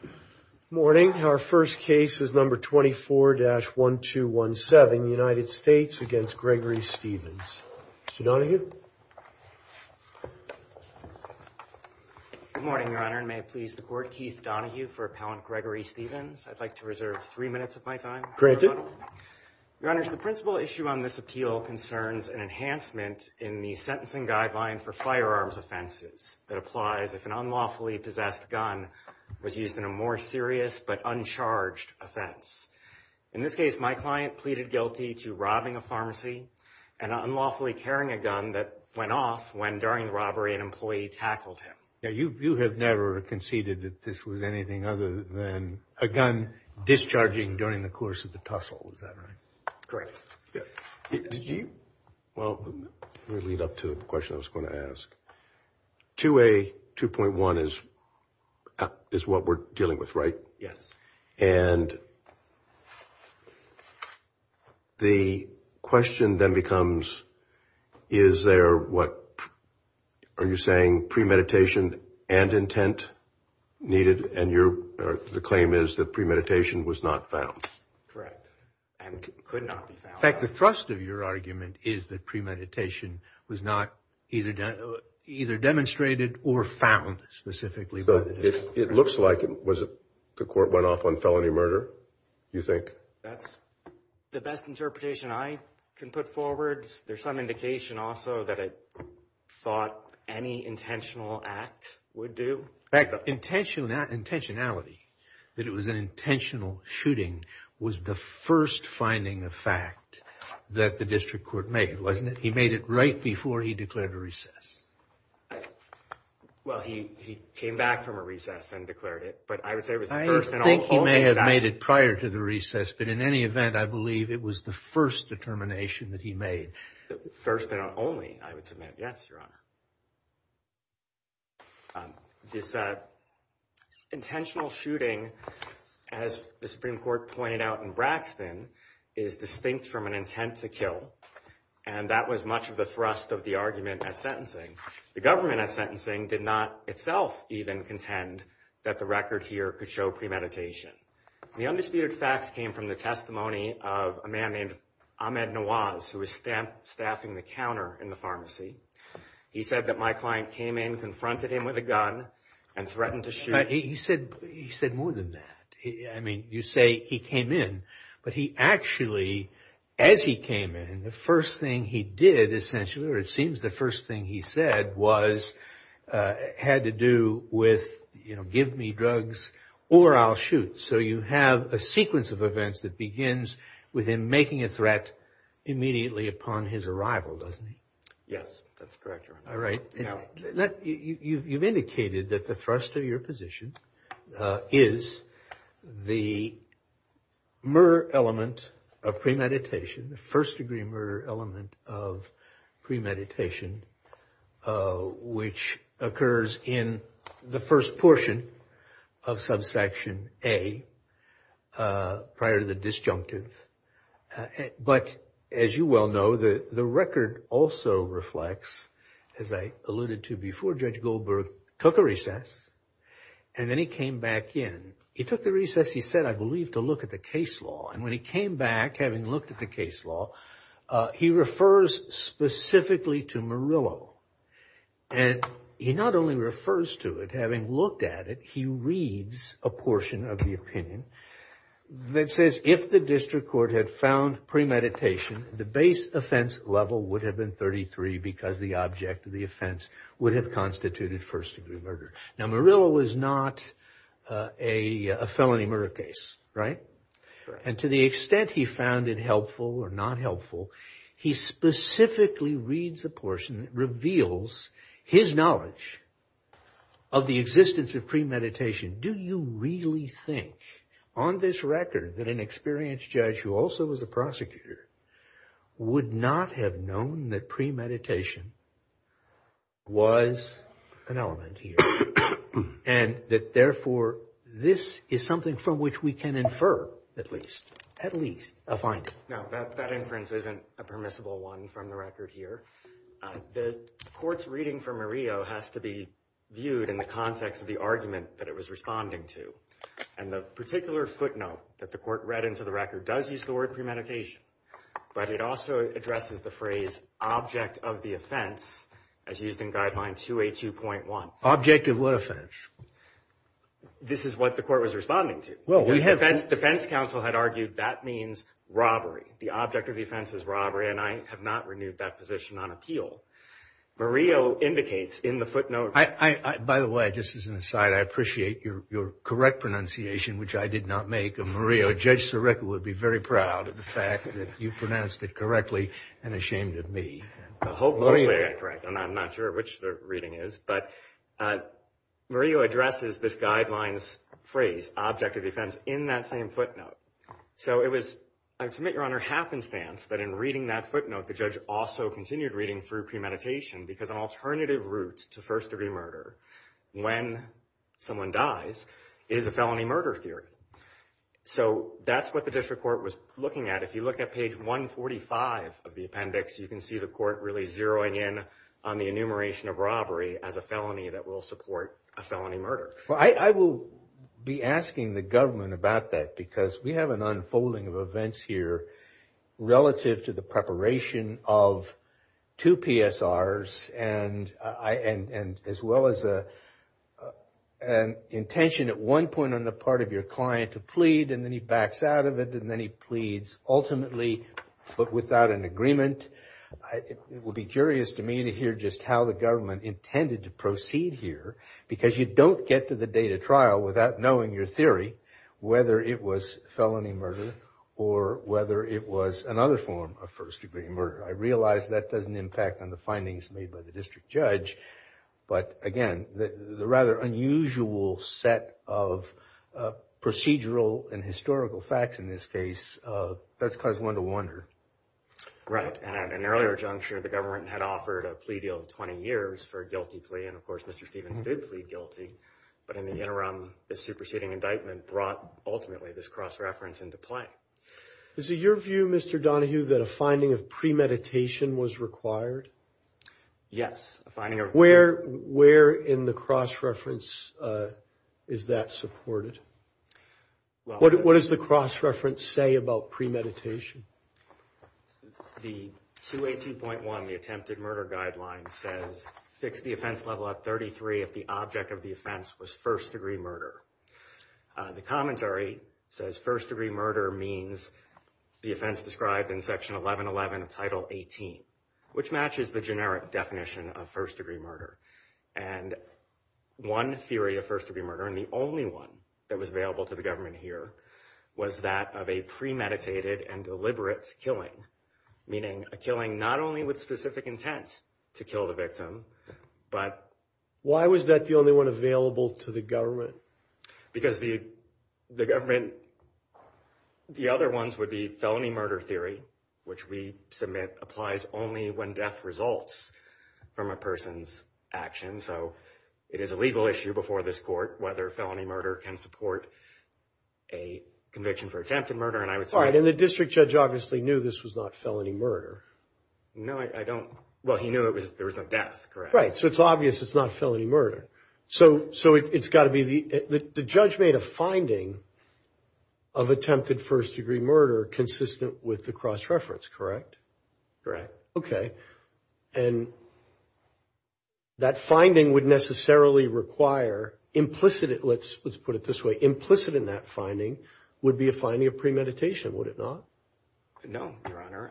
Good morning, Your Honor, and may it please the Court, Keith Donohue for Appellant Gregory Stevens. I'd like to reserve three minutes of my time. Your Honor, the principal issue on this appeal concerns an enhancement in the sentencing that applies if an unlawfully possessed gun was used in a more serious but uncharged offense. In this case, my client pleaded guilty to robbing a pharmacy and unlawfully carrying a gun that went off when, during the robbery, an employee tackled him. Now, you have never conceded that this was anything other than a gun discharging during the course of the tussle, is that right? Correct. Well, let me lead up to the question I was going to ask. 2A.2.1 is what we're dealing with, right? Yes. And the question then becomes, is there what, are you saying premeditation and intent needed? And the claim is that premeditation was not found. Correct. And could not be found. In fact, the thrust of your argument is that premeditation was not either demonstrated or found specifically. So, it looks like the court went off on felony murder, you think? That's the best interpretation I can put forward. There's some indication also that it thought any intentional act would do. In fact, intentionality, that it was an intentional shooting, was the first finding of fact that the district court made, wasn't it? He made it right before he declared a recess. Well, he came back from a recess and declared it, but I would say it was the first and only I think he may have made it prior to the recess, but in any event, I believe it was the first determination that he made. First and only, I would submit. Yes, Your Honor. This intentional shooting, as the Supreme Court pointed out in Braxton, is distinct from an intent to kill, and that was much of the thrust of the argument at sentencing. The government at sentencing did not itself even contend that the record here could show premeditation. The undisputed facts came from the testimony of a man named Ahmed Nawaz, who was staffing the counter in the pharmacy. He said that my client came in, confronted him with a gun, and threatened to shoot him. He said more than that. I mean, you say he came in, but he actually, as he came in, the first thing he did, essentially, or it seems the first thing he said was, had to do with, you know, give me drugs or I'll shoot. So you have a sequence of events that begins with him making a threat immediately upon his arrival, doesn't he? Yes, that's correct, Your Honor. You've indicated that the thrust of your position is the mer element of premeditation, the first degree mer element of premeditation, which occurs in the first portion of subsection A, prior to the disjunctive. But, as you well know, the record also reflects, as I alluded to before, Judge Goldberg took a recess, and then he came back in. He took the recess, he said, I believe, to look at the case law. And when he came back, having looked at the case law, he refers specifically to Murillo. And he not only refers to it, having looked at it, he reads a portion of the opinion that says, if the district court had found premeditation, the base offense level would have been 33, because the object of the offense would have constituted first degree murder. Now, Murillo was not a felony murder case, right? And to the extent he found it helpful or not helpful, he specifically reads a portion that reveals his knowledge of the existence of premeditation. Do you really think, on this record, that an experienced judge who also was a prosecutor would not have known that premeditation was an element here? And that, therefore, this is something from which we can infer, at least, a finding? No, that inference isn't a permissible one from the record here. The court's reading from Murillo has to be viewed in the context of the argument that it was responding to. And the particular footnote that the court read into the record does use the word premeditation. But it also addresses the phrase, object of the offense, as used in Guideline 282.1. Object of what offense? This is what the court was responding to. The defense counsel had argued that means robbery. The object of the offense is robbery, and I have not renewed that position on appeal. Murillo indicates in the footnote... By the way, just as an aside, I appreciate your correct pronunciation, which I did not make. And Murillo, Judge Sirica, would be very proud of the fact that you pronounced it correctly, and ashamed of me. I'm not sure which the reading is. But Murillo addresses this guideline's phrase, object of the offense, in that same footnote. So it was, I submit, Your Honor, happenstance that in reading that footnote, the judge also continued reading through premeditation, because an alternative route to first-degree murder, when someone dies, is a felony murder theory. So that's what the district court was looking at. If you look at page 145 of the appendix, you can see the court really zeroing in on the enumeration of robbery as a felony that will support a felony murder. I will be asking the government about that, because we have an unfolding of events here, relative to the preparation of two PSRs, and as well as an intention at one point on the part of your client to plead, and then he backs out of it, and then he pleads, ultimately, but without an agreement. It would be curious to me to hear just how the government intended to proceed here, because you don't get to the date of trial without knowing your theory, whether it was felony murder, or whether it was another form of first-degree murder. I realize that doesn't impact on the findings made by the district judge, but, again, the rather unusual set of procedural and historical facts in this case does cause one to wonder. Right, and at an earlier juncture, the government had offered a plea deal of 20 years for a guilty plea, and, of course, Mr. Stephens did plead guilty, but in the interim, this superseding indictment brought, ultimately, this cross-reference into play. Is it your view, Mr. Donohue, that a finding of premeditation was required? Yes, a finding of premeditation. Where in the cross-reference is that supported? What does the cross-reference say about premeditation? The 282.1, the attempted murder guideline, says, fix the offense level at 33 if the object of the offense was first-degree murder. The commentary says first-degree murder means the offense described in Section 1111 of Title 18, which matches the generic definition of first-degree murder. And one theory of first-degree murder, and the only one that was available to the government here, was that of a premeditated and deliberate killing, meaning a killing not only with specific intent to kill the victim, but— Why was that the only one available to the government? Because the government—the other ones would be felony murder theory, which we submit applies only when death results from a person's actions. So it is a legal issue before this court whether felony murder can support a conviction for attempted murder. And I would say— All right, and the district judge obviously knew this was not felony murder. No, I don't—well, he knew there was no death, correct? Right, so it's obvious it's not felony murder. So it's got to be—the judge made a finding of attempted first-degree murder consistent with the cross-reference, correct? Correct. Okay. And that finding would necessarily require implicit—let's put it this way— implicit in that finding would be a finding of premeditation, would it not? No, Your Honor.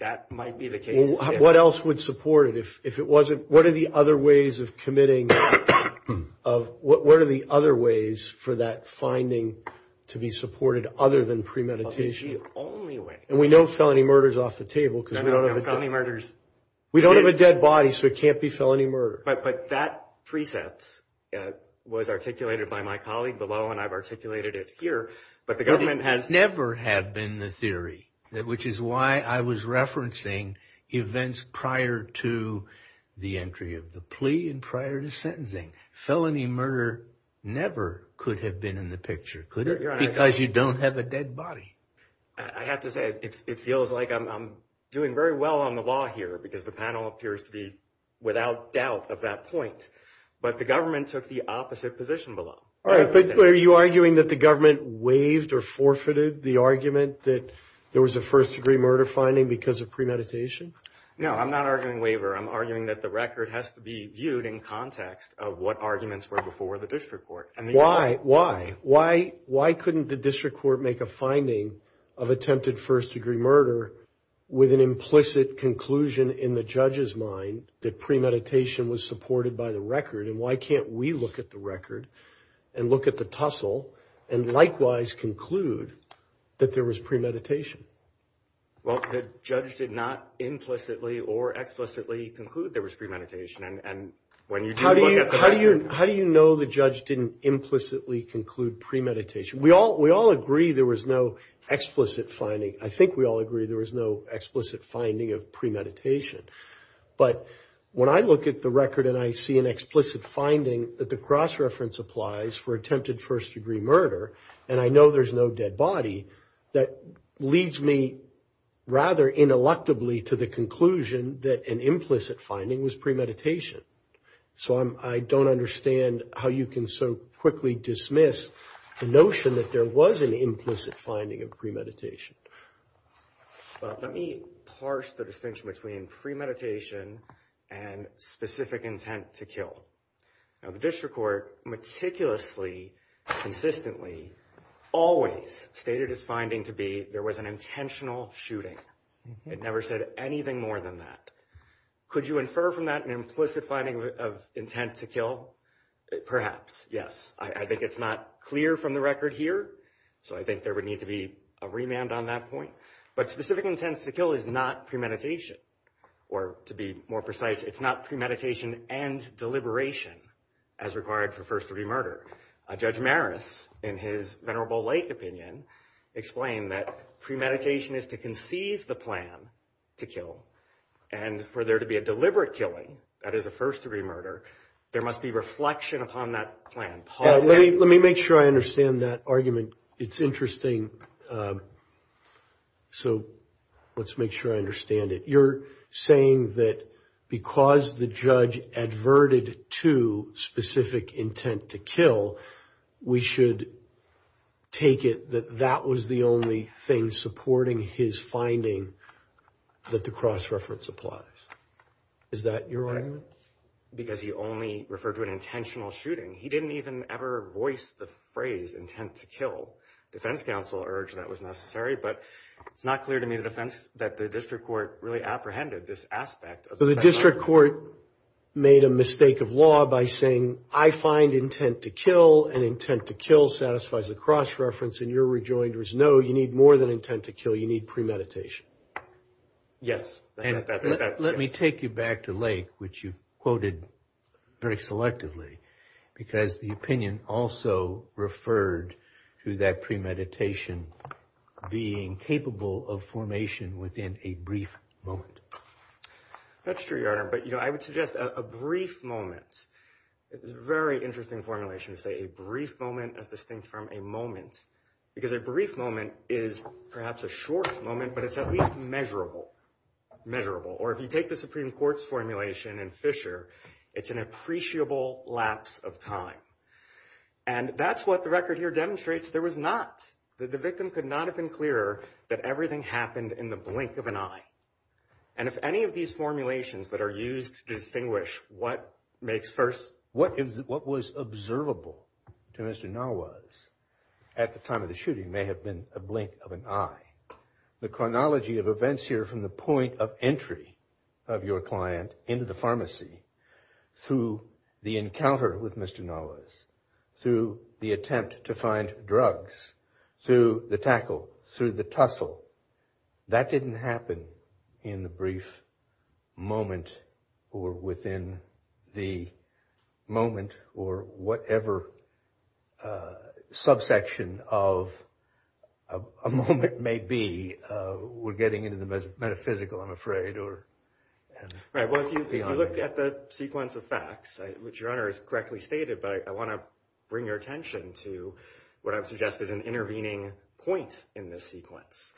That might be the case. What else would support it? If it wasn't—what are the other ways of committing—what are the other ways for that finding to be supported other than premeditation? That would be the only way. And we know felony murder is off the table because we don't have a— No, no, no, felony murder is— We don't have a dead body, so it can't be felony murder. But that precept was articulated by my colleague below, and I've articulated it here, but the government has— could never have been the theory, which is why I was referencing events prior to the entry of the plea and prior to sentencing. Felony murder never could have been in the picture, could it? Because you don't have a dead body. I have to say, it feels like I'm doing very well on the law here because the panel appears to be without doubt of that point. But the government took the opposite position below. All right. But are you arguing that the government waived or forfeited the argument that there was a first-degree murder finding because of premeditation? No, I'm not arguing waiver. I'm arguing that the record has to be viewed in context of what arguments were before the district court. Why? Why? Why couldn't the district court make a finding of attempted first-degree murder with an implicit conclusion in the judge's mind that premeditation was supported by the record? And why can't we look at the record and look at the tussle and likewise conclude that there was premeditation? Well, the judge did not implicitly or explicitly conclude there was premeditation. And when you do look at the record— How do you know the judge didn't implicitly conclude premeditation? We all agree there was no explicit finding. I think we all agree there was no explicit finding of premeditation. But when I look at the record and I see an explicit finding that the cross-reference applies for attempted first-degree murder and I know there's no dead body, that leads me rather ineluctably to the conclusion that an implicit finding was premeditation. So I don't understand how you can so quickly dismiss the notion that there was an implicit finding of premeditation. But let me parse the distinction between premeditation and specific intent to kill. Now, the district court meticulously, consistently, always stated its finding to be there was an intentional shooting. It never said anything more than that. Could you infer from that an implicit finding of intent to kill? Perhaps, yes. I think it's not clear from the record here, so I think there would need to be a remand on that point. But specific intent to kill is not premeditation. Or to be more precise, it's not premeditation and deliberation as required for first-degree murder. Judge Maris, in his Venerable Lake opinion, explained that premeditation is to conceive the plan to kill. And for there to be a deliberate killing, that is a first-degree murder, there must be reflection upon that plan. Let me make sure I understand that argument. It's interesting, so let's make sure I understand it. You're saying that because the judge adverted to specific intent to kill, we should take it that that was the only thing supporting his finding that the cross-reference applies. Is that your argument? Because he only referred to an intentional shooting. He didn't even ever voice the phrase intent to kill. Defense counsel urged that was necessary, but it's not clear to me that the district court really apprehended this aspect. So the district court made a mistake of law by saying, I find intent to kill, and intent to kill satisfies the cross-reference, and your rejoinder is no, you need more than intent to kill, you need premeditation. Yes. Let me take you back to Lake, which you quoted very selectively, because the opinion also referred to that premeditation being capable of formation within a brief moment. That's true, Your Honor, but I would suggest a brief moment. It's a very interesting formulation to say a brief moment as distinct from a moment, because a brief moment is perhaps a short moment, but it's at least measurable. Or if you take the Supreme Court's formulation in Fisher, it's an appreciable lapse of time. And that's what the record here demonstrates. There was not, the victim could not have been clearer that everything happened in the blink of an eye. And if any of these formulations that are used to distinguish what makes first, what was observable to Mr. Nawaz at the time of the shooting may have been a blink of an eye. The chronology of events here from the point of entry of your client into the pharmacy, through the encounter with Mr. Nawaz, through the attempt to find drugs, through the tackle, through the tussle, that didn't happen in the brief moment or within the moment or whatever subsection of a moment may be. We're getting into the metaphysical, I'm afraid. Right, well, if you look at the sequence of facts, which Your Honor has correctly stated, but I want to bring your attention to what I would suggest is an intervening point in this sequence.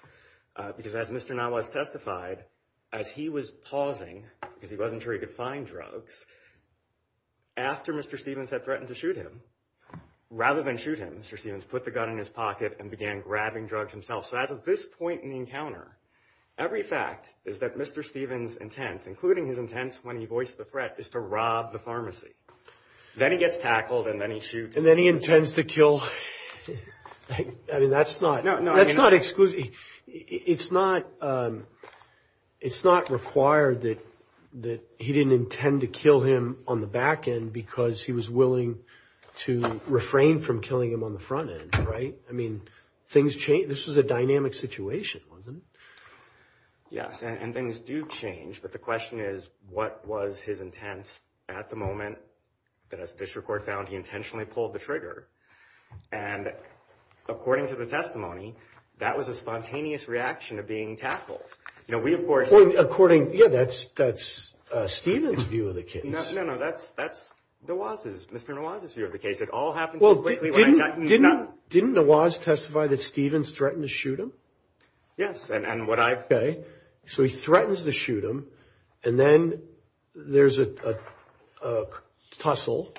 Because as Mr. Nawaz testified, as he was pausing, because he wasn't sure he could find drugs, after Mr. Stephens had threatened to shoot him, rather than shoot him, Mr. Stephens put the gun in his pocket and began grabbing drugs himself. So as of this point in the encounter, every fact is that Mr. Stephens' intent, including his intent when he voiced the threat, is to rob the pharmacy. Then he gets tackled and then he shoots. The intent to kill, I mean, that's not exclusive. It's not required that he didn't intend to kill him on the back end because he was willing to refrain from killing him on the front end, right? I mean, things change. This was a dynamic situation, wasn't it? Yes, and things do change. But the question is, what was his intent at the moment? And as the district court found, he intentionally pulled the trigger. And according to the testimony, that was a spontaneous reaction of being tackled. You know, we, of course— Well, according—yeah, that's Stephens' view of the case. No, no, no, that's Nawaz's, Mr. Nawaz's view of the case. It all happened so quickly— Well, didn't Nawaz testify that Stephens threatened to shoot him? Yes, and what I've— Okay, so he threatens to shoot him, and then there's a tussle,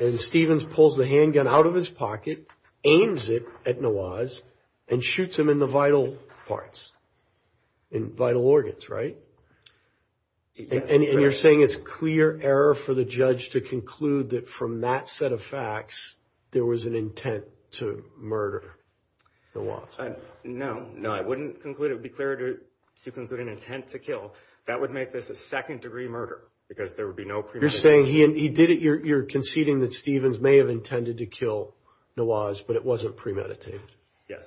and Stephens pulls the handgun out of his pocket, aims it at Nawaz, and shoots him in the vital parts, in vital organs, right? And you're saying it's clear error for the judge to conclude that from that set of facts there was an intent to murder Nawaz. No, no, I wouldn't conclude—it would be clear to conclude an intent to kill. That would make this a second-degree murder because there would be no premeditated— You're saying he did it—you're conceding that Stephens may have intended to kill Nawaz, but it wasn't premeditated. Yes.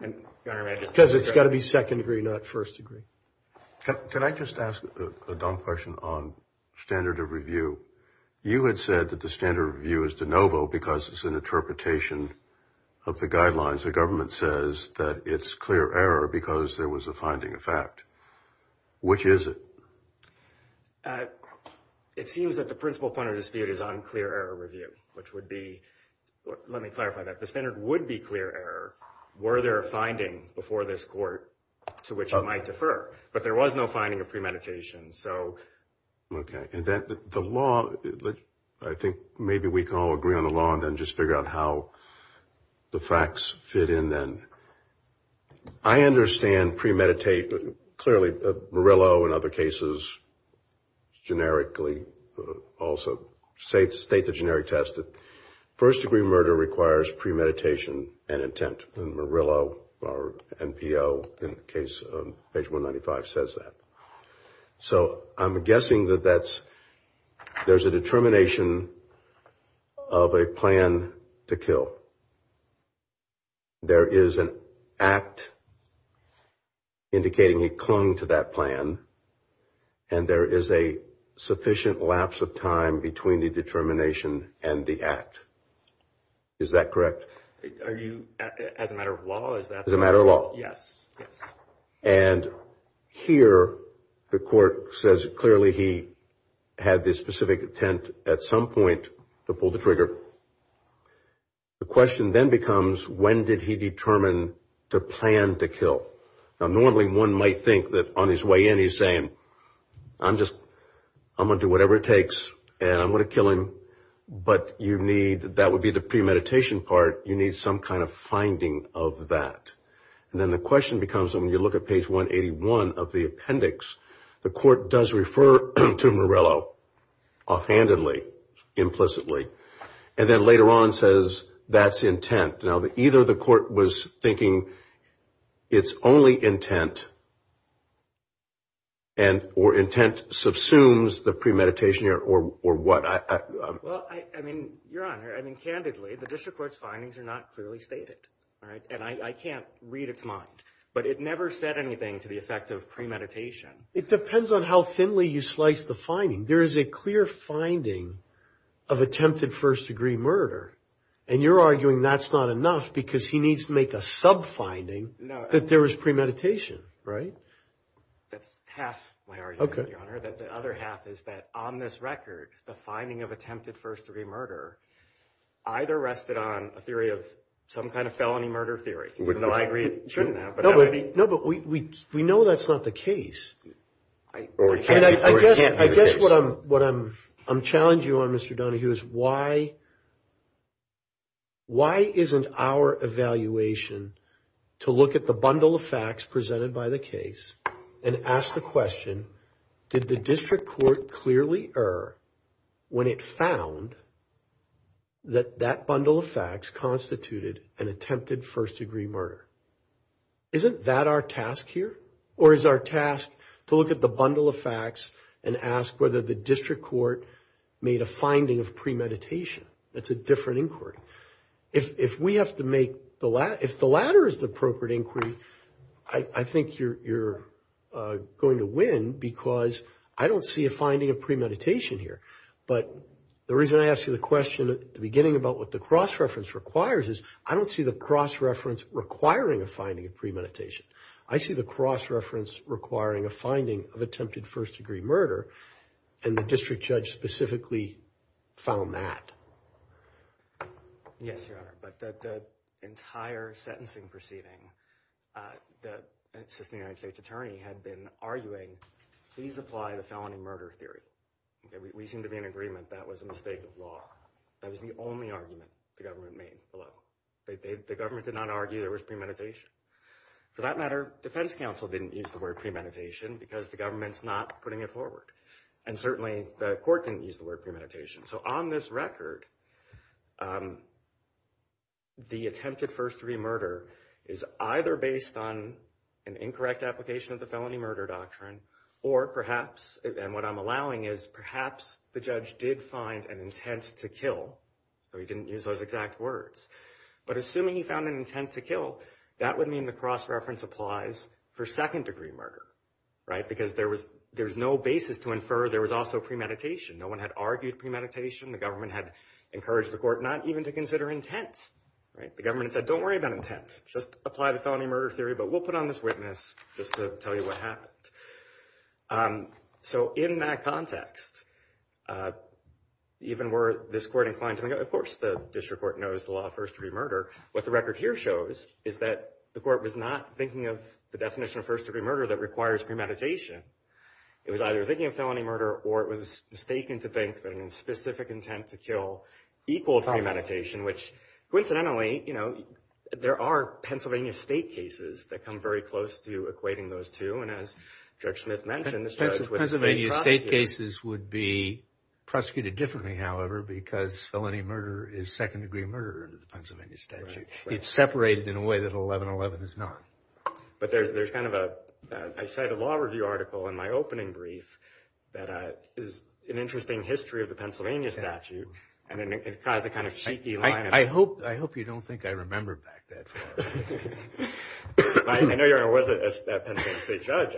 Because it's got to be second-degree, not first-degree. Can I just ask a dumb question on standard of review? You had said that the standard of review is de novo because it's an interpretation of the guidelines. The government says that it's clear error because there was a finding of fact. Which is it? It seems that the principal point of dispute is on clear error review, which would be—let me clarify that. The standard would be clear error were there a finding before this court to which it might defer, but there was no finding of premeditation, so— Okay, and then the law—I think maybe we can all agree on the law and then just figure out how the facts fit in then. I understand premeditated—clearly Murillo and other cases generically also state the generic test. First-degree murder requires premeditation and intent. And Murillo, our NPO, in the case of page 195, says that. So I'm guessing that that's—there's a determination of a plan to kill. There is an act indicating he clung to that plan, and there is a sufficient lapse of time between the determination and the act. Is that correct? Are you—as a matter of law, is that— As a matter of law. Yes. And here the court says clearly he had this specific intent at some point to pull the trigger. The question then becomes, when did he determine to plan to kill? Now, normally one might think that on his way in he's saying, I'm just—I'm going to do whatever it takes and I'm going to kill him, but you need—that would be the premeditation part. You need some kind of finding of that. And then the question becomes, when you look at page 181 of the appendix, the court does refer to Murillo offhandedly, implicitly, and then later on says that's intent. Now, either the court was thinking it's only intent and—or intent subsumes the premeditation or what. Well, I mean, Your Honor, I mean, candidly, the district court's findings are not clearly stated. All right? And I can't read its mind, but it never said anything to the effect of premeditation. It depends on how thinly you slice the finding. There is a clear finding of attempted first-degree murder, and you're arguing that's not enough because he needs to make a sub-finding that there was premeditation, right? That's half my argument, Your Honor. The other half is that on this record, the finding of attempted first-degree murder either rested on a theory of some kind of felony murder theory, even though I agree it shouldn't have. No, but we know that's not the case. I guess what I'm challenging you on, Mr. Donahue, is why isn't our evaluation to look at the bundle of facts presented by the case and ask the question, did the district court clearly err when it found that that bundle of facts constituted an attempted first-degree murder? Isn't that our task here? Or is our task to look at the bundle of facts and ask whether the district court made a finding of premeditation? That's a different inquiry. If we have to make the latter, if the latter is the appropriate inquiry, I think you're going to win because I don't see a finding of premeditation here. But the reason I asked you the question at the beginning about what the cross-reference requires is, I don't see the cross-reference requiring a finding of premeditation. I see the cross-reference requiring a finding of attempted first-degree murder, and the district judge specifically found that. Yes, Your Honor, but the entire sentencing proceeding, the assistant United States attorney had been arguing, please apply the felony murder theory. We seem to be in agreement that was a mistake of law. That was the only argument the government made below. The government did not argue there was premeditation. For that matter, defense counsel didn't use the word premeditation because the government's not putting it forward. And certainly the court didn't use the word premeditation. So on this record, the attempted first-degree murder is either based on an incorrect application of the felony murder doctrine, or perhaps, and what I'm allowing is perhaps the judge did find an intent to kill. So he didn't use those exact words. But assuming he found an intent to kill, that would mean the cross-reference applies for second-degree murder. Because there was no basis to infer there was also premeditation. No one had argued premeditation. The government had encouraged the court not even to consider intent. The government said, don't worry about intent. Just apply the felony murder theory, but we'll put on this witness just to tell you what happened. So in that context, even were this court inclined, of course the district court knows the law of first-degree murder. What the record here shows is that the court was not thinking of the definition of first-degree murder that requires premeditation. It was either thinking of felony murder, or it was mistaken to think that a specific intent to kill equaled premeditation, which coincidentally, you know, there are Pennsylvania State cases that come very close to equating those two. And as Judge Smith mentioned, this judge was a state prosecutor. Pennsylvania State cases would be prosecuted differently, however, because felony murder is second-degree murder under the Pennsylvania statute. It's separated in a way that 1111 is not. But there's kind of a, I cite a law review article in my opening brief that is an interesting history of the Pennsylvania statute. And it caused a kind of cheeky line. I hope you don't think I remember back that far. I know your honor wasn't a Pennsylvania State judge.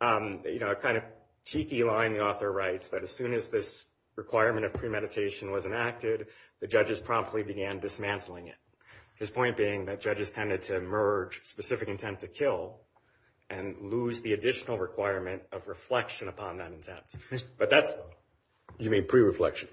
You know, a kind of cheeky line the author writes that as soon as this requirement of premeditation was enacted, the judges promptly began dismantling it. His point being that judges tended to merge specific intent to kill and lose the additional requirement of reflection upon that intent. But that's. You mean pre-reflection?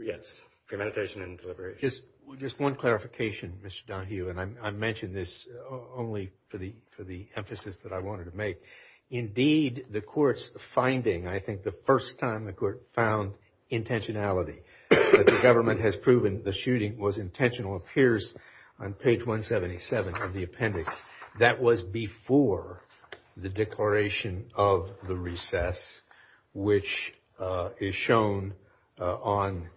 Yes, premeditation and deliberation. Just one clarification, Mr. Donahue, and I mention this only for the emphasis that I wanted to make. Indeed, the court's finding, I think the first time the court found intentionality, that the government has proven the shooting was intentional, appears on page 177 of the appendix. That was before the declaration of the recess, which is shown on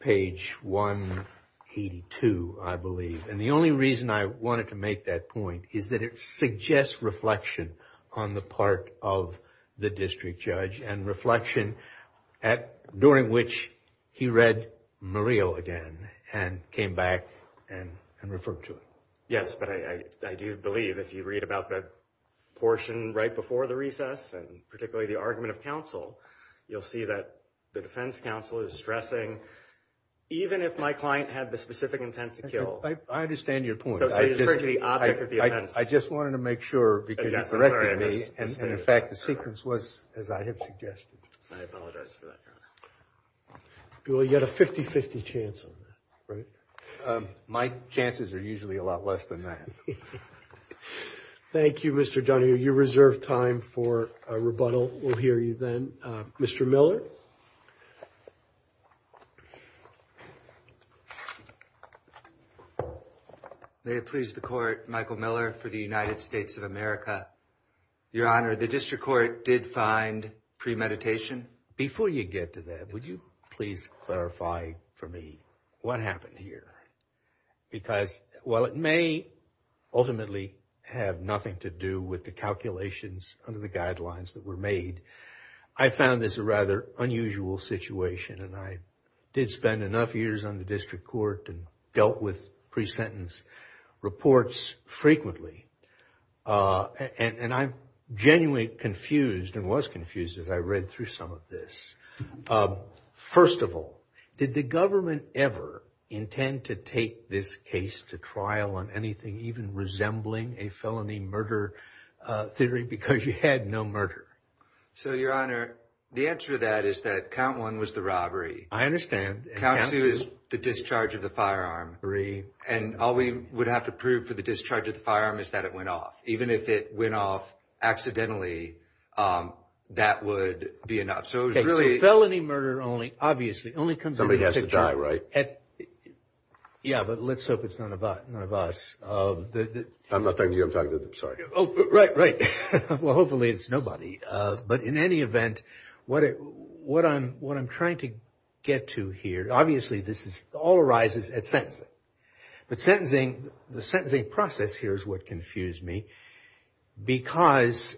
page 182, I believe. And the only reason I wanted to make that point is that it suggests reflection on the part of the district judge and reflection during which he read Murillo again and came back and referred to it. Yes, but I do believe if you read about that portion right before the recess, and particularly the argument of counsel, you'll see that the defense counsel is stressing, even if my client had the specific intent to kill. I understand your point. So you refer to the object of the offense. I just wanted to make sure, because you corrected me, and in fact the sequence was as I had suggested. I apologize for that, Your Honor. Well, you had a 50-50 chance on that, right? My chances are usually a lot less than that. Thank you, Mr. Donohue. You reserve time for a rebuttal. We'll hear you then. Mr. Miller? May it please the Court, Michael Miller for the United States of America. Your Honor, the district court did find premeditation. Before you get to that, would you please clarify for me what happened here? Because while it may ultimately have nothing to do with the calculations under the guidelines that were made, I found this a rather unusual situation. I did spend enough years on the district court and dealt with pre-sentence reports frequently. And I'm genuinely confused and was confused as I read through some of this. First of all, did the government ever intend to take this case to trial on anything even resembling a felony murder theory because you had no murder? So, Your Honor, the answer to that is that count one was the robbery. I understand. Count two is the discharge of the firearm. Three. And all we would have to prove for the discharge of the firearm is that it went off. Even if it went off accidentally, that would be enough. Okay, so felony murder only, obviously, only comes into the district court. Somebody has to die, right? Yeah, but let's hope it's none of us. I'm not talking to you. I'm talking to them. Right, right. Well, hopefully it's nobody. But in any event, what I'm trying to get to here, obviously this all arises at sentencing. But the sentencing process here is what confused me because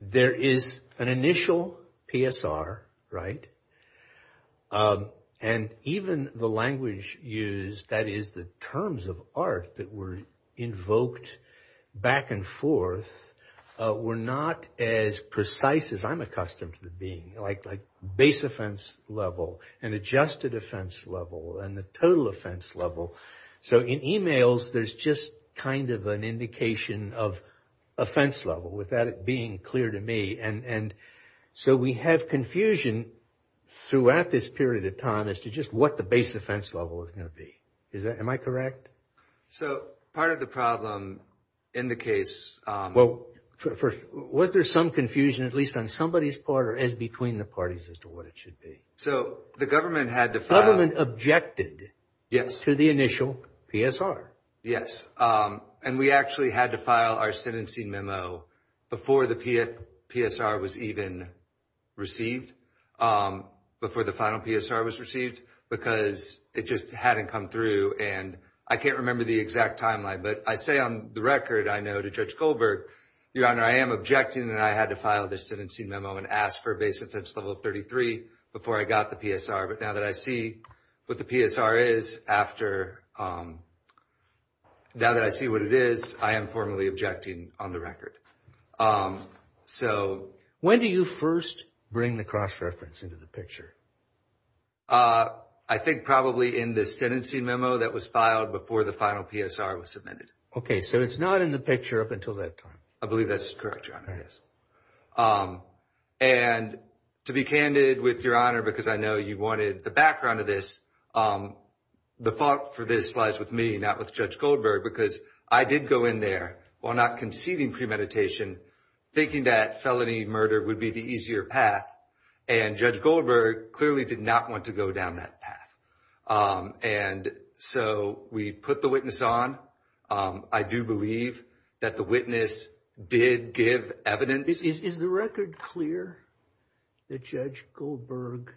there is an initial PSR, right? And even the language used, that is the terms of art that were invoked back and forth, were not as precise as I'm accustomed to being. Like base offense level and adjusted offense level and the total offense level. So in emails, there's just kind of an indication of offense level without it being clear to me. So we have confusion throughout this period of time as to just what the base offense level is going to be. Am I correct? So part of the problem in the case... Well, first, was there some confusion at least on somebody's part or as between the parties as to what it should be? So the government had to file... The government objected to the initial PSR. Yes. And we actually had to file our sentencing memo before the PSR was even received, before the final PSR was received, because it just hadn't come through. And I can't remember the exact timeline, but I say on the record I know to Judge Goldberg, Your Honor, I am objecting that I had to file the sentencing memo and ask for base offense level 33 before I got the PSR. But now that I see what the PSR is after... Now that I see what it is, I am formally objecting on the record. So... When do you first bring the cross-reference into the picture? I think probably in the sentencing memo that was filed before the final PSR was submitted. Okay, so it's not in the picture up until that time. I believe that's correct, Your Honor, yes. And to be candid with Your Honor, because I know you wanted the background of this, the fault for this lies with me, not with Judge Goldberg, because I did go in there, while not conceding premeditation, thinking that felony murder would be the easier path, and Judge Goldberg clearly did not want to go down that path. And so we put the witness on. I do believe that the witness did give evidence. Is the record clear that Judge Goldberg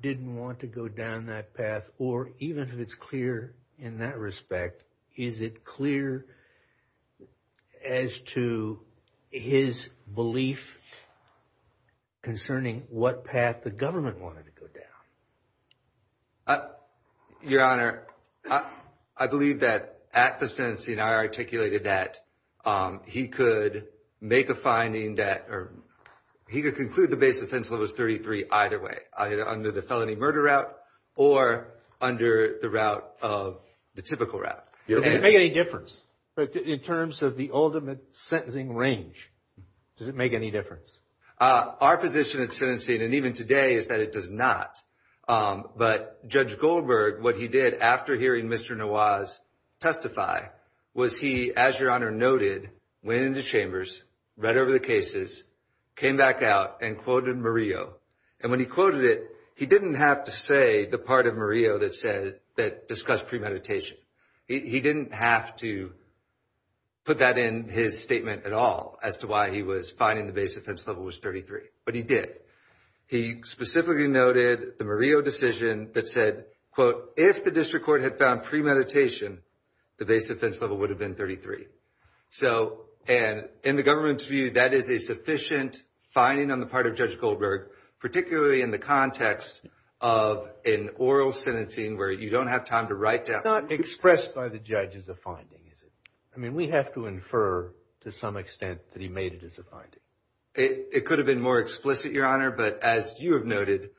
didn't want to go down that path? Or even if it's clear in that respect, is it clear as to his belief concerning what path the government wanted to go down? Your Honor, I believe that at the sentencing, I articulated that he could make a finding that, or he could conclude the base offense level was 33 either way, either under the felony murder route or under the route of, the typical route. Does it make any difference? In terms of the ultimate sentencing range, does it make any difference? Our position at sentencing, and even today, is that it does not. But Judge Goldberg, what he did after hearing Mr. Nawaz testify, was he, as Your Honor noted, went into chambers, read over the cases, came back out, and quoted Murillo. And when he quoted it, he didn't have to say the part of Murillo that discussed premeditation. He didn't have to put that in his statement at all as to why he was finding the base offense level was 33. But he did. He specifically noted the Murillo decision that said, quote, if the district court had found premeditation, the base offense level would have been 33. So, and in the government's view, that is a sufficient finding on the part of Judge Goldberg, particularly in the context of an oral sentencing where you don't have time to write down. It's not expressed by the judge as a finding, is it? I mean, we have to infer, to some extent, that he made it as a finding. It could have been more explicit, Your Honor. But as you have noted,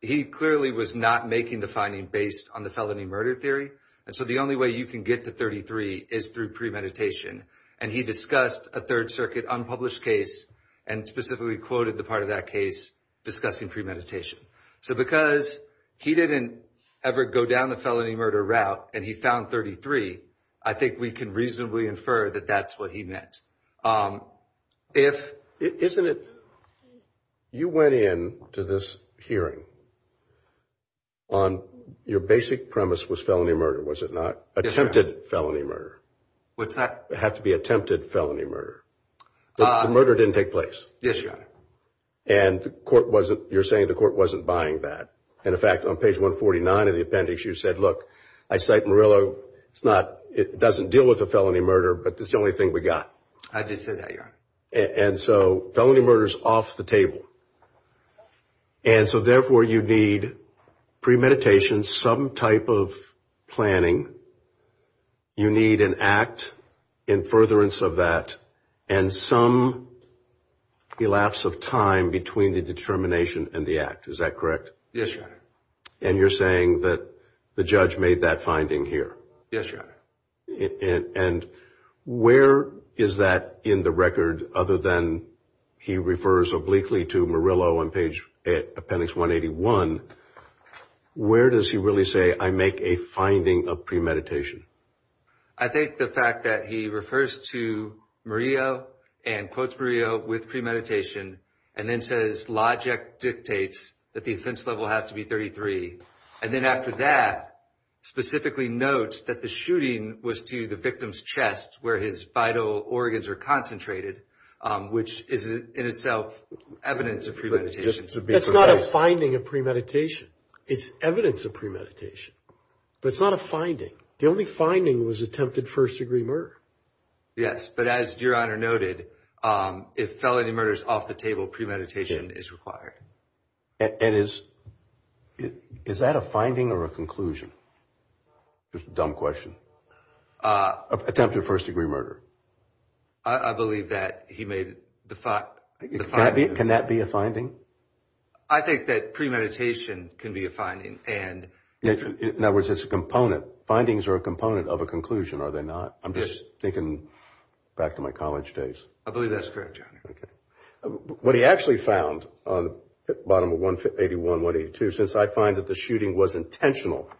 he clearly was not making the finding based on the felony murder theory. And so the only way you can get to 33 is through premeditation. And he discussed a Third Circuit unpublished case and specifically quoted the part of that case discussing premeditation. So because he didn't ever go down the felony murder route and he found 33, I think we can reasonably infer that that's what he meant. Isn't it you went in to this hearing on your basic premise was felony murder, was it not? Attempted felony murder. What's that? It had to be attempted felony murder. The murder didn't take place. Yes, Your Honor. And you're saying the court wasn't buying that. And, in fact, on page 149 of the appendix, you said, look, I cite Murillo. It doesn't deal with a felony murder, but it's the only thing we got. I did say that, Your Honor. And so felony murder is off the table. And so, therefore, you need premeditation, some type of planning. You need an act in furtherance of that and some elapse of time between the determination and the act. Is that correct? Yes, Your Honor. And you're saying that the judge made that finding here. Yes, Your Honor. And where is that in the record other than he refers obliquely to Murillo on appendix 181? Where does he really say, I make a finding of premeditation? I think the fact that he refers to Murillo and quotes Murillo with premeditation, and then says logic dictates that the offense level has to be 33, and then after that specifically notes that the shooting was to the victim's chest, where his vital organs are concentrated, which is in itself evidence of premeditation. That's not a finding of premeditation. It's evidence of premeditation. But it's not a finding. The only finding was attempted first-degree murder. Yes, but as Your Honor noted, if felony murder is off the table, premeditation is required. And is that a finding or a conclusion? It's a dumb question. Attempted first-degree murder. I believe that he made the finding. Can that be a finding? I think that premeditation can be a finding. In other words, it's a component. Findings are a component of a conclusion, are they not? I'm just thinking back to my college days. I believe that's correct, Your Honor. Okay. What he actually found on the bottom of 181, 182, since I find that the shooting was intentional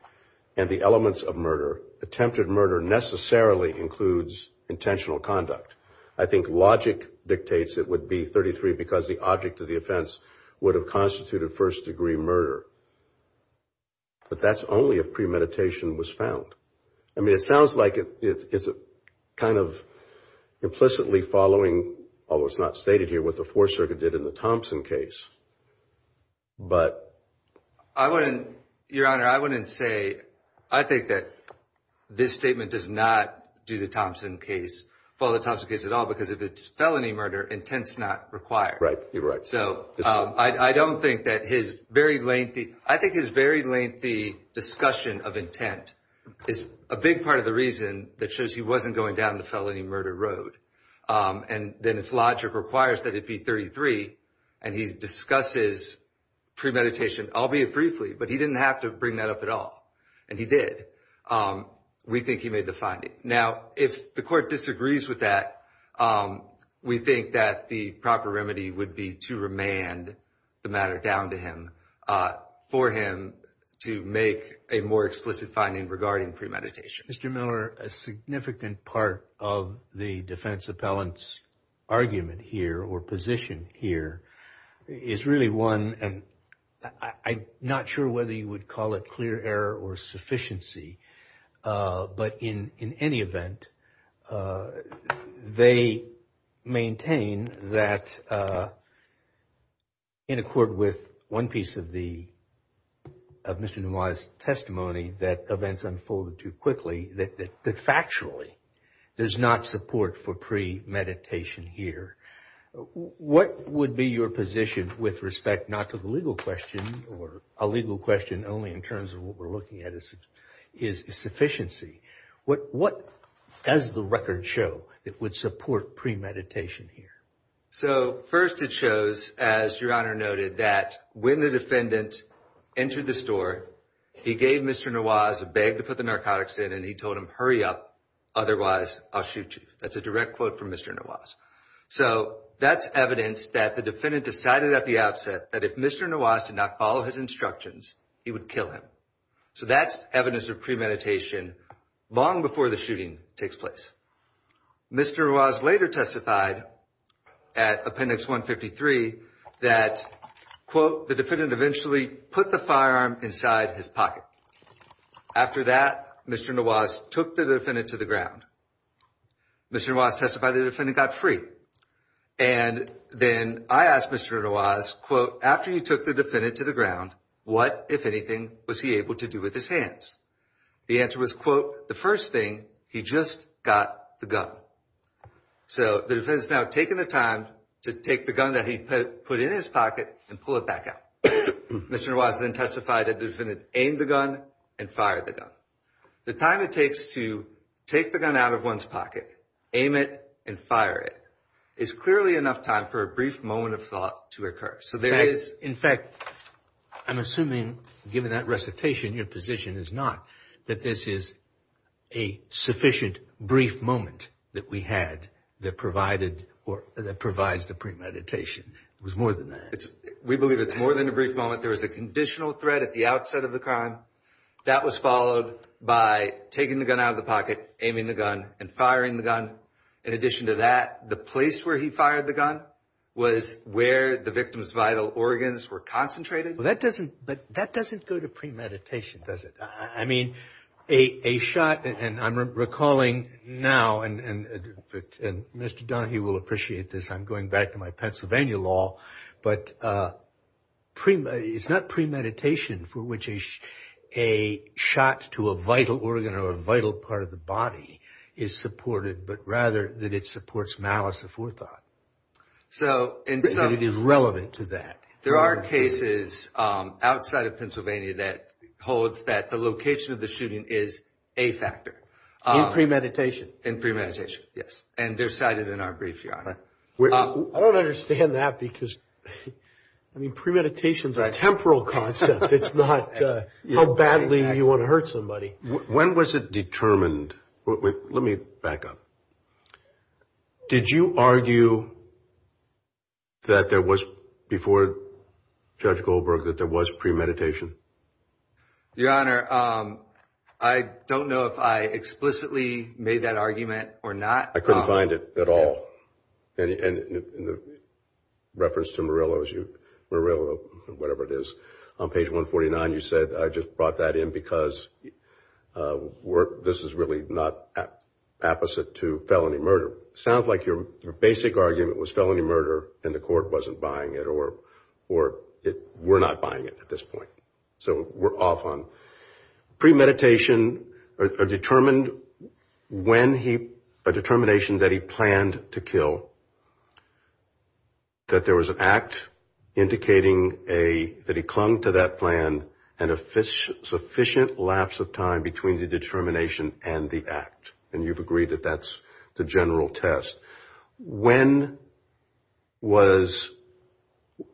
and the elements of murder, attempted murder necessarily includes intentional conduct. I think logic dictates it would be 33 because the object of the offense would have constituted first-degree murder. But that's only if premeditation was found. I mean, it sounds like it's kind of implicitly following, although it's not stated here, what the Fourth Circuit did in the Thompson case. But... I wouldn't, Your Honor, I wouldn't say. I think that this statement does not do the Thompson case, follow the Thompson case at all because if it's felony murder, intent's not required. Right, you're right. So I don't think that his very lengthy, I think his very lengthy discussion of intent is a big part of the reason that shows he wasn't going down the felony murder road. And then if logic requires that it be 33 and he discusses premeditation, albeit briefly, but he didn't have to bring that up at all, and he did, we think he made the finding. Now, if the court disagrees with that, we think that the proper remedy would be to remand the matter down to him, for him to make a more explicit finding regarding premeditation. Mr. Miller, a significant part of the defense appellant's argument here or position here is really one, and I'm not sure whether you would call it clear error or sufficiency, but in any event, they maintain that in accord with one piece of the, of Mr. Nawaz's testimony, that events unfolded too quickly, that factually there's not support for premeditation here. What would be your position with respect not to the legal question, or a legal question only in terms of what we're looking at is sufficiency. What does the record show that would support premeditation here? So first it shows, as Your Honor noted, that when the defendant entered the store, he gave Mr. Nawaz a bag to put the narcotics in and he told him, hurry up, otherwise I'll shoot you. That's a direct quote from Mr. Nawaz. So that's evidence that the defendant decided at the outset that if Mr. Nawaz did not follow his instructions, he would kill him. So that's evidence of premeditation long before the shooting takes place. Mr. Nawaz later testified at Appendix 153 that, quote, the defendant eventually put the firearm inside his pocket. After that, Mr. Nawaz took the defendant to the ground. Mr. Nawaz testified the defendant got free. And then I asked Mr. Nawaz, quote, after you took the defendant to the ground, what, if anything, was he able to do with his hands? The answer was, quote, the first thing, he just got the gun. So the defendant's now taking the time to take the gun that he put in his pocket and pull it back out. Mr. Nawaz then testified that the defendant aimed the gun and fired the gun. The time it takes to take the gun out of one's pocket, aim it, and fire it is clearly enough time for a brief moment of thought to occur. So there is. In fact, I'm assuming, given that recitation, your position is not that this is a sufficient brief moment that we had that provided or that provides the premeditation. It was more than that. We believe it's more than a brief moment. There was a conditional threat at the outset of the crime. That was followed by taking the gun out of the pocket, aiming the gun, and firing the gun. In addition to that, the place where he fired the gun was where the victim's vital organs were concentrated. But that doesn't go to premeditation, does it? I mean, a shot, and I'm recalling now, and Mr. Donahue will appreciate this, I'm going back to my Pennsylvania law, but it's not premeditation for which a shot to a vital organ or a vital part of the body is supported, but rather that it supports malice of forethought. So it is relevant to that. There are cases outside of Pennsylvania that holds that the location of the shooting is a factor. In premeditation. In premeditation, yes. And they're cited in our brief, Your Honor. I don't understand that because premeditation is a temporal concept. It's not how badly you want to hurt somebody. When was it determined? Let me back up. Did you argue that there was, before Judge Goldberg, that there was premeditation? Your Honor, I don't know if I explicitly made that argument or not. I couldn't find it at all. In reference to Murillo, whatever it is, on page 149, you said, I just brought that in because this is really not apposite to felony murder. It sounds like your basic argument was felony murder and the court wasn't buying it, or we're not buying it at this point. So we're off on. Premeditation, a determination that he planned to kill, that there was an act indicating that he clung to that plan and a sufficient lapse of time between the determination and the act. And you've agreed that that's the general test. When was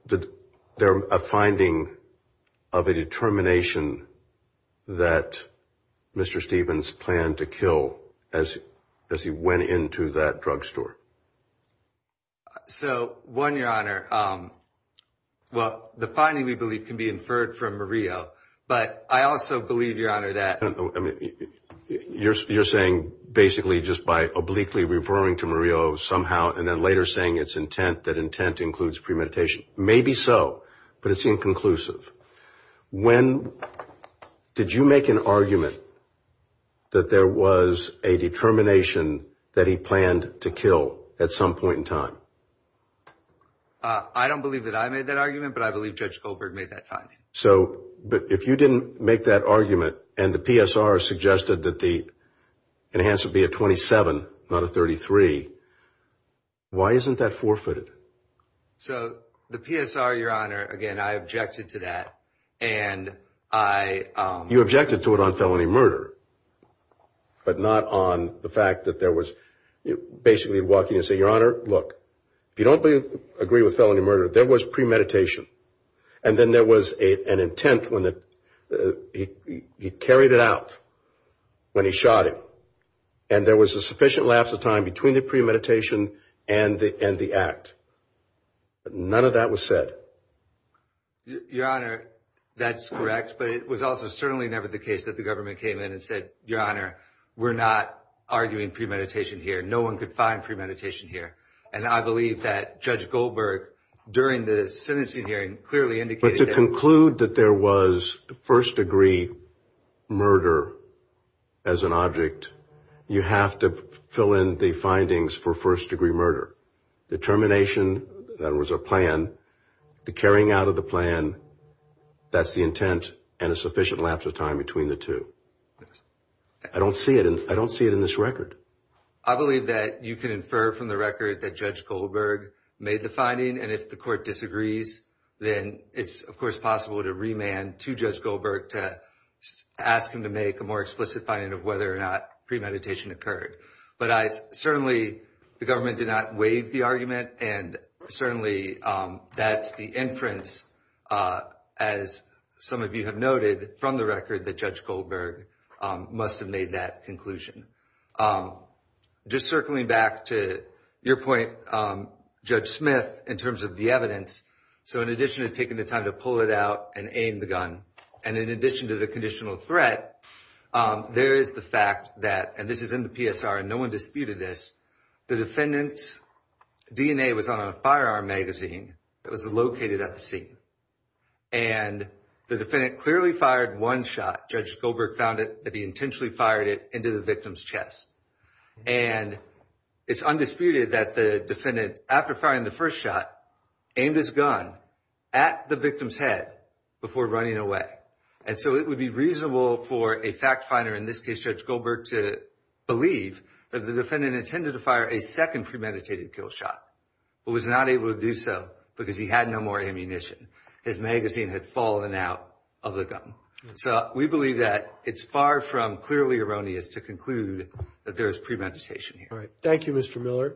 there a finding of a determination that Mr. Stevens planned to kill as he went into that drugstore? So, one, Your Honor, well, the finding, we believe, can be inferred from Murillo. But I also believe, Your Honor, that. You're saying basically just by obliquely referring to Murillo somehow and then later saying it's intent, that intent includes premeditation. Maybe so, but it's inconclusive. When did you make an argument that there was a determination that he planned to kill at some point in time? I don't believe that I made that argument, but I believe Judge Goldberg made that finding. So, but if you didn't make that argument and the PSR suggested that the enhanced would be a 27, not a 33, why isn't that forfeited? So, the PSR, Your Honor, again, I objected to that and I. You objected to it on felony murder, but not on the fact that there was basically walking and saying, Your Honor, look, if you don't agree with felony murder, there was premeditation. And then there was an intent when he carried it out, when he shot him. And there was a sufficient lapse of time between the premeditation and the act. None of that was said. Your Honor, that's correct, but it was also certainly never the case that the government came in and said, Your Honor, we're not arguing premeditation here. No one could find premeditation here. And I believe that Judge Goldberg, during the sentencing hearing, clearly indicated that. But to conclude that there was first degree murder as an object, you have to fill in the findings for first degree murder. The termination, that was a plan, the carrying out of the plan, that's the intent, and a sufficient lapse of time between the two. I don't see it in this record. I believe that you can infer from the record that Judge Goldberg made the finding. And if the court disagrees, then it's, of course, possible to remand to Judge Goldberg to ask him to make a more explicit finding of whether or not premeditation occurred. But certainly the government did not waive the argument. And certainly that's the inference, as some of you have noted from the record, that Judge Goldberg must have made that conclusion. Just circling back to your point, Judge Smith, in terms of the evidence, so in addition to taking the time to pull it out and aim the gun, and in addition to the conditional threat, there is the fact that, and this is in the PSR and no one disputed this, the defendant's DNA was on a firearm magazine that was located at the scene. And the defendant clearly fired one shot, Judge Goldberg found it, that he intentionally fired it into the victim's chest. And it's undisputed that the defendant, after firing the first shot, aimed his gun at the victim's head before running away. And so it would be reasonable for a fact finder, in this case Judge Goldberg, to believe that the defendant intended to fire a second premeditated kill shot, but was not able to do so because he had no more ammunition. His magazine had fallen out of the gun. So we believe that it's far from clearly erroneous to conclude that there is premeditation here. Thank you, Mr. Miller.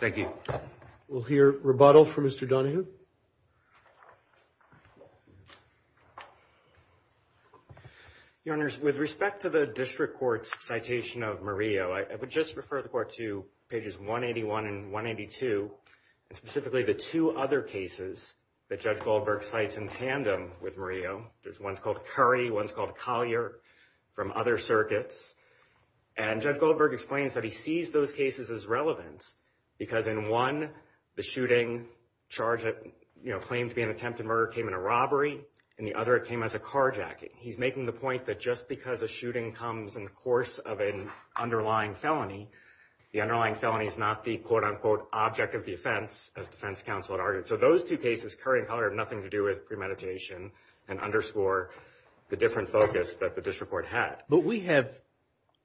Thank you. We'll hear rebuttal from Mr. Donahue. Thank you. Your Honors, with respect to the district court's citation of Murillo, I would just refer the court to pages 181 and 182, and specifically the two other cases that Judge Goldberg cites in tandem with Murillo. There's one's called Curry, one's called Collier, from other circuits. And Judge Goldberg explains that he sees those cases as relevant, because in one, the shooting charge claimed to be an attempted murder came in a robbery, and the other came as a carjacking. He's making the point that just because a shooting comes in the course of an underlying felony, the underlying felony is not the, quote, unquote, object of the offense, as defense counsel had argued. So those two cases, Curry and Collier, have nothing to do with premeditation and underscore the different focus that the district court had. But we have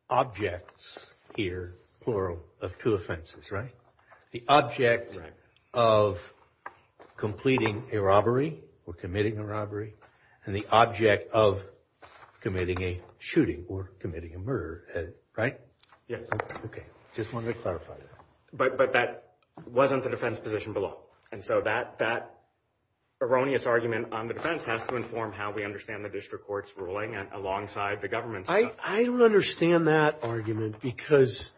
objects here, plural, of two offenses, right? The object of completing a robbery or committing a robbery, and the object of committing a shooting or committing a murder, right? Yes. Okay. Just wanted to clarify that. But that wasn't the defense position below. And so that erroneous argument on the defense has to inform how we understand the district court's ruling alongside the government's. I don't understand that argument, because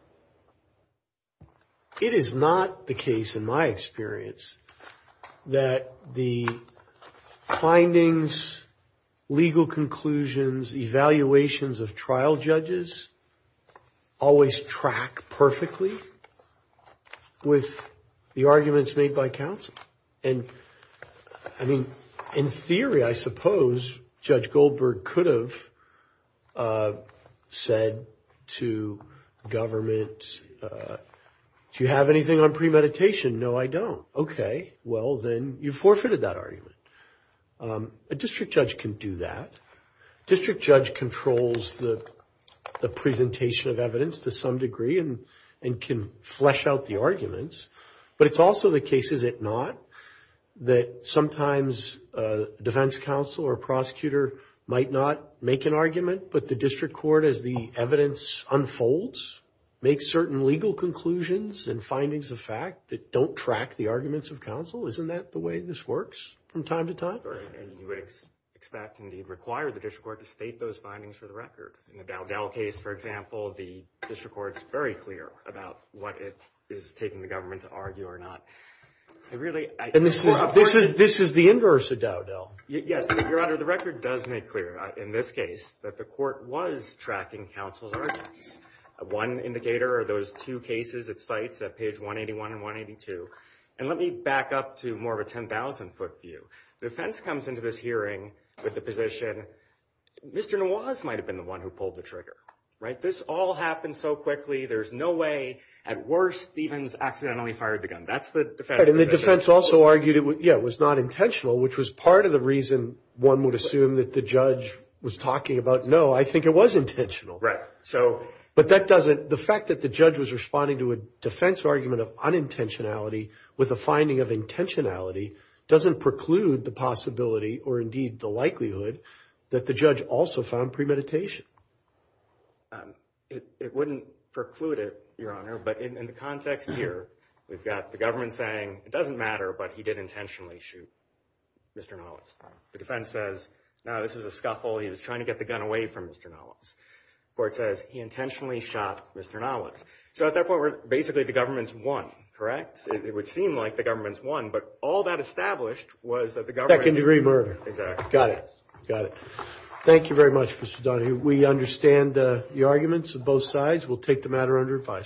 it is not the case, in my experience, that the findings, legal conclusions, evaluations of trial judges always track perfectly with the arguments made by counsel. And, I mean, in theory, I suppose Judge Goldberg could have said to government, do you have anything on premeditation? No, I don't. Okay. Well, then you forfeited that argument. A district judge can do that. A district judge controls the presentation of evidence to some degree and can flesh out the arguments. But it's also the case, is it not, that sometimes a defense counsel or prosecutor might not make an argument, but the district court, as the evidence unfolds, makes certain legal conclusions and findings of fact that don't track the arguments of counsel. Isn't that the way this works from time to time? Right. And you would expect, indeed, require the district court to state those findings for the record. In the Dowdell case, for example, the district court is very clear about what it is taking the government to argue or not. And this is the inverse of Dowdell. Yes. Your Honor, the record does make clear, in this case, that the court was tracking counsel's arguments. One indicator are those two cases at sites at page 181 and 182. And let me back up to more of a 10,000-foot view. The defense comes into this hearing with the position, Mr. Nawaz might have been the one who pulled the trigger, right? This all happened so quickly. There's no way. At worst, Stevens accidentally fired the gun. That's the defense position. And the defense also argued it was not intentional, which was part of the reason one would assume that the judge was talking about, no, I think it was intentional. Right. But that doesn't – the fact that the judge was responding to a defense argument of unintentionality with a finding of intentionality doesn't preclude the possibility or, indeed, the likelihood that the judge also found premeditation. It wouldn't preclude it, Your Honor, but in the context here, we've got the government saying it doesn't matter, but he did intentionally shoot Mr. Nawaz. The defense says, no, this was a scuffle. He was trying to get the gun away from Mr. Nawaz. The court says he intentionally shot Mr. Nawaz. So at that point, basically, the government's won, correct? Yes. It would seem like the government's won, but all that established was that the government— Second-degree murder. Exactly. Got it. Got it. Thank you very much, Mr. Donahue. We understand the arguments of both sides. We'll take the matter under advice.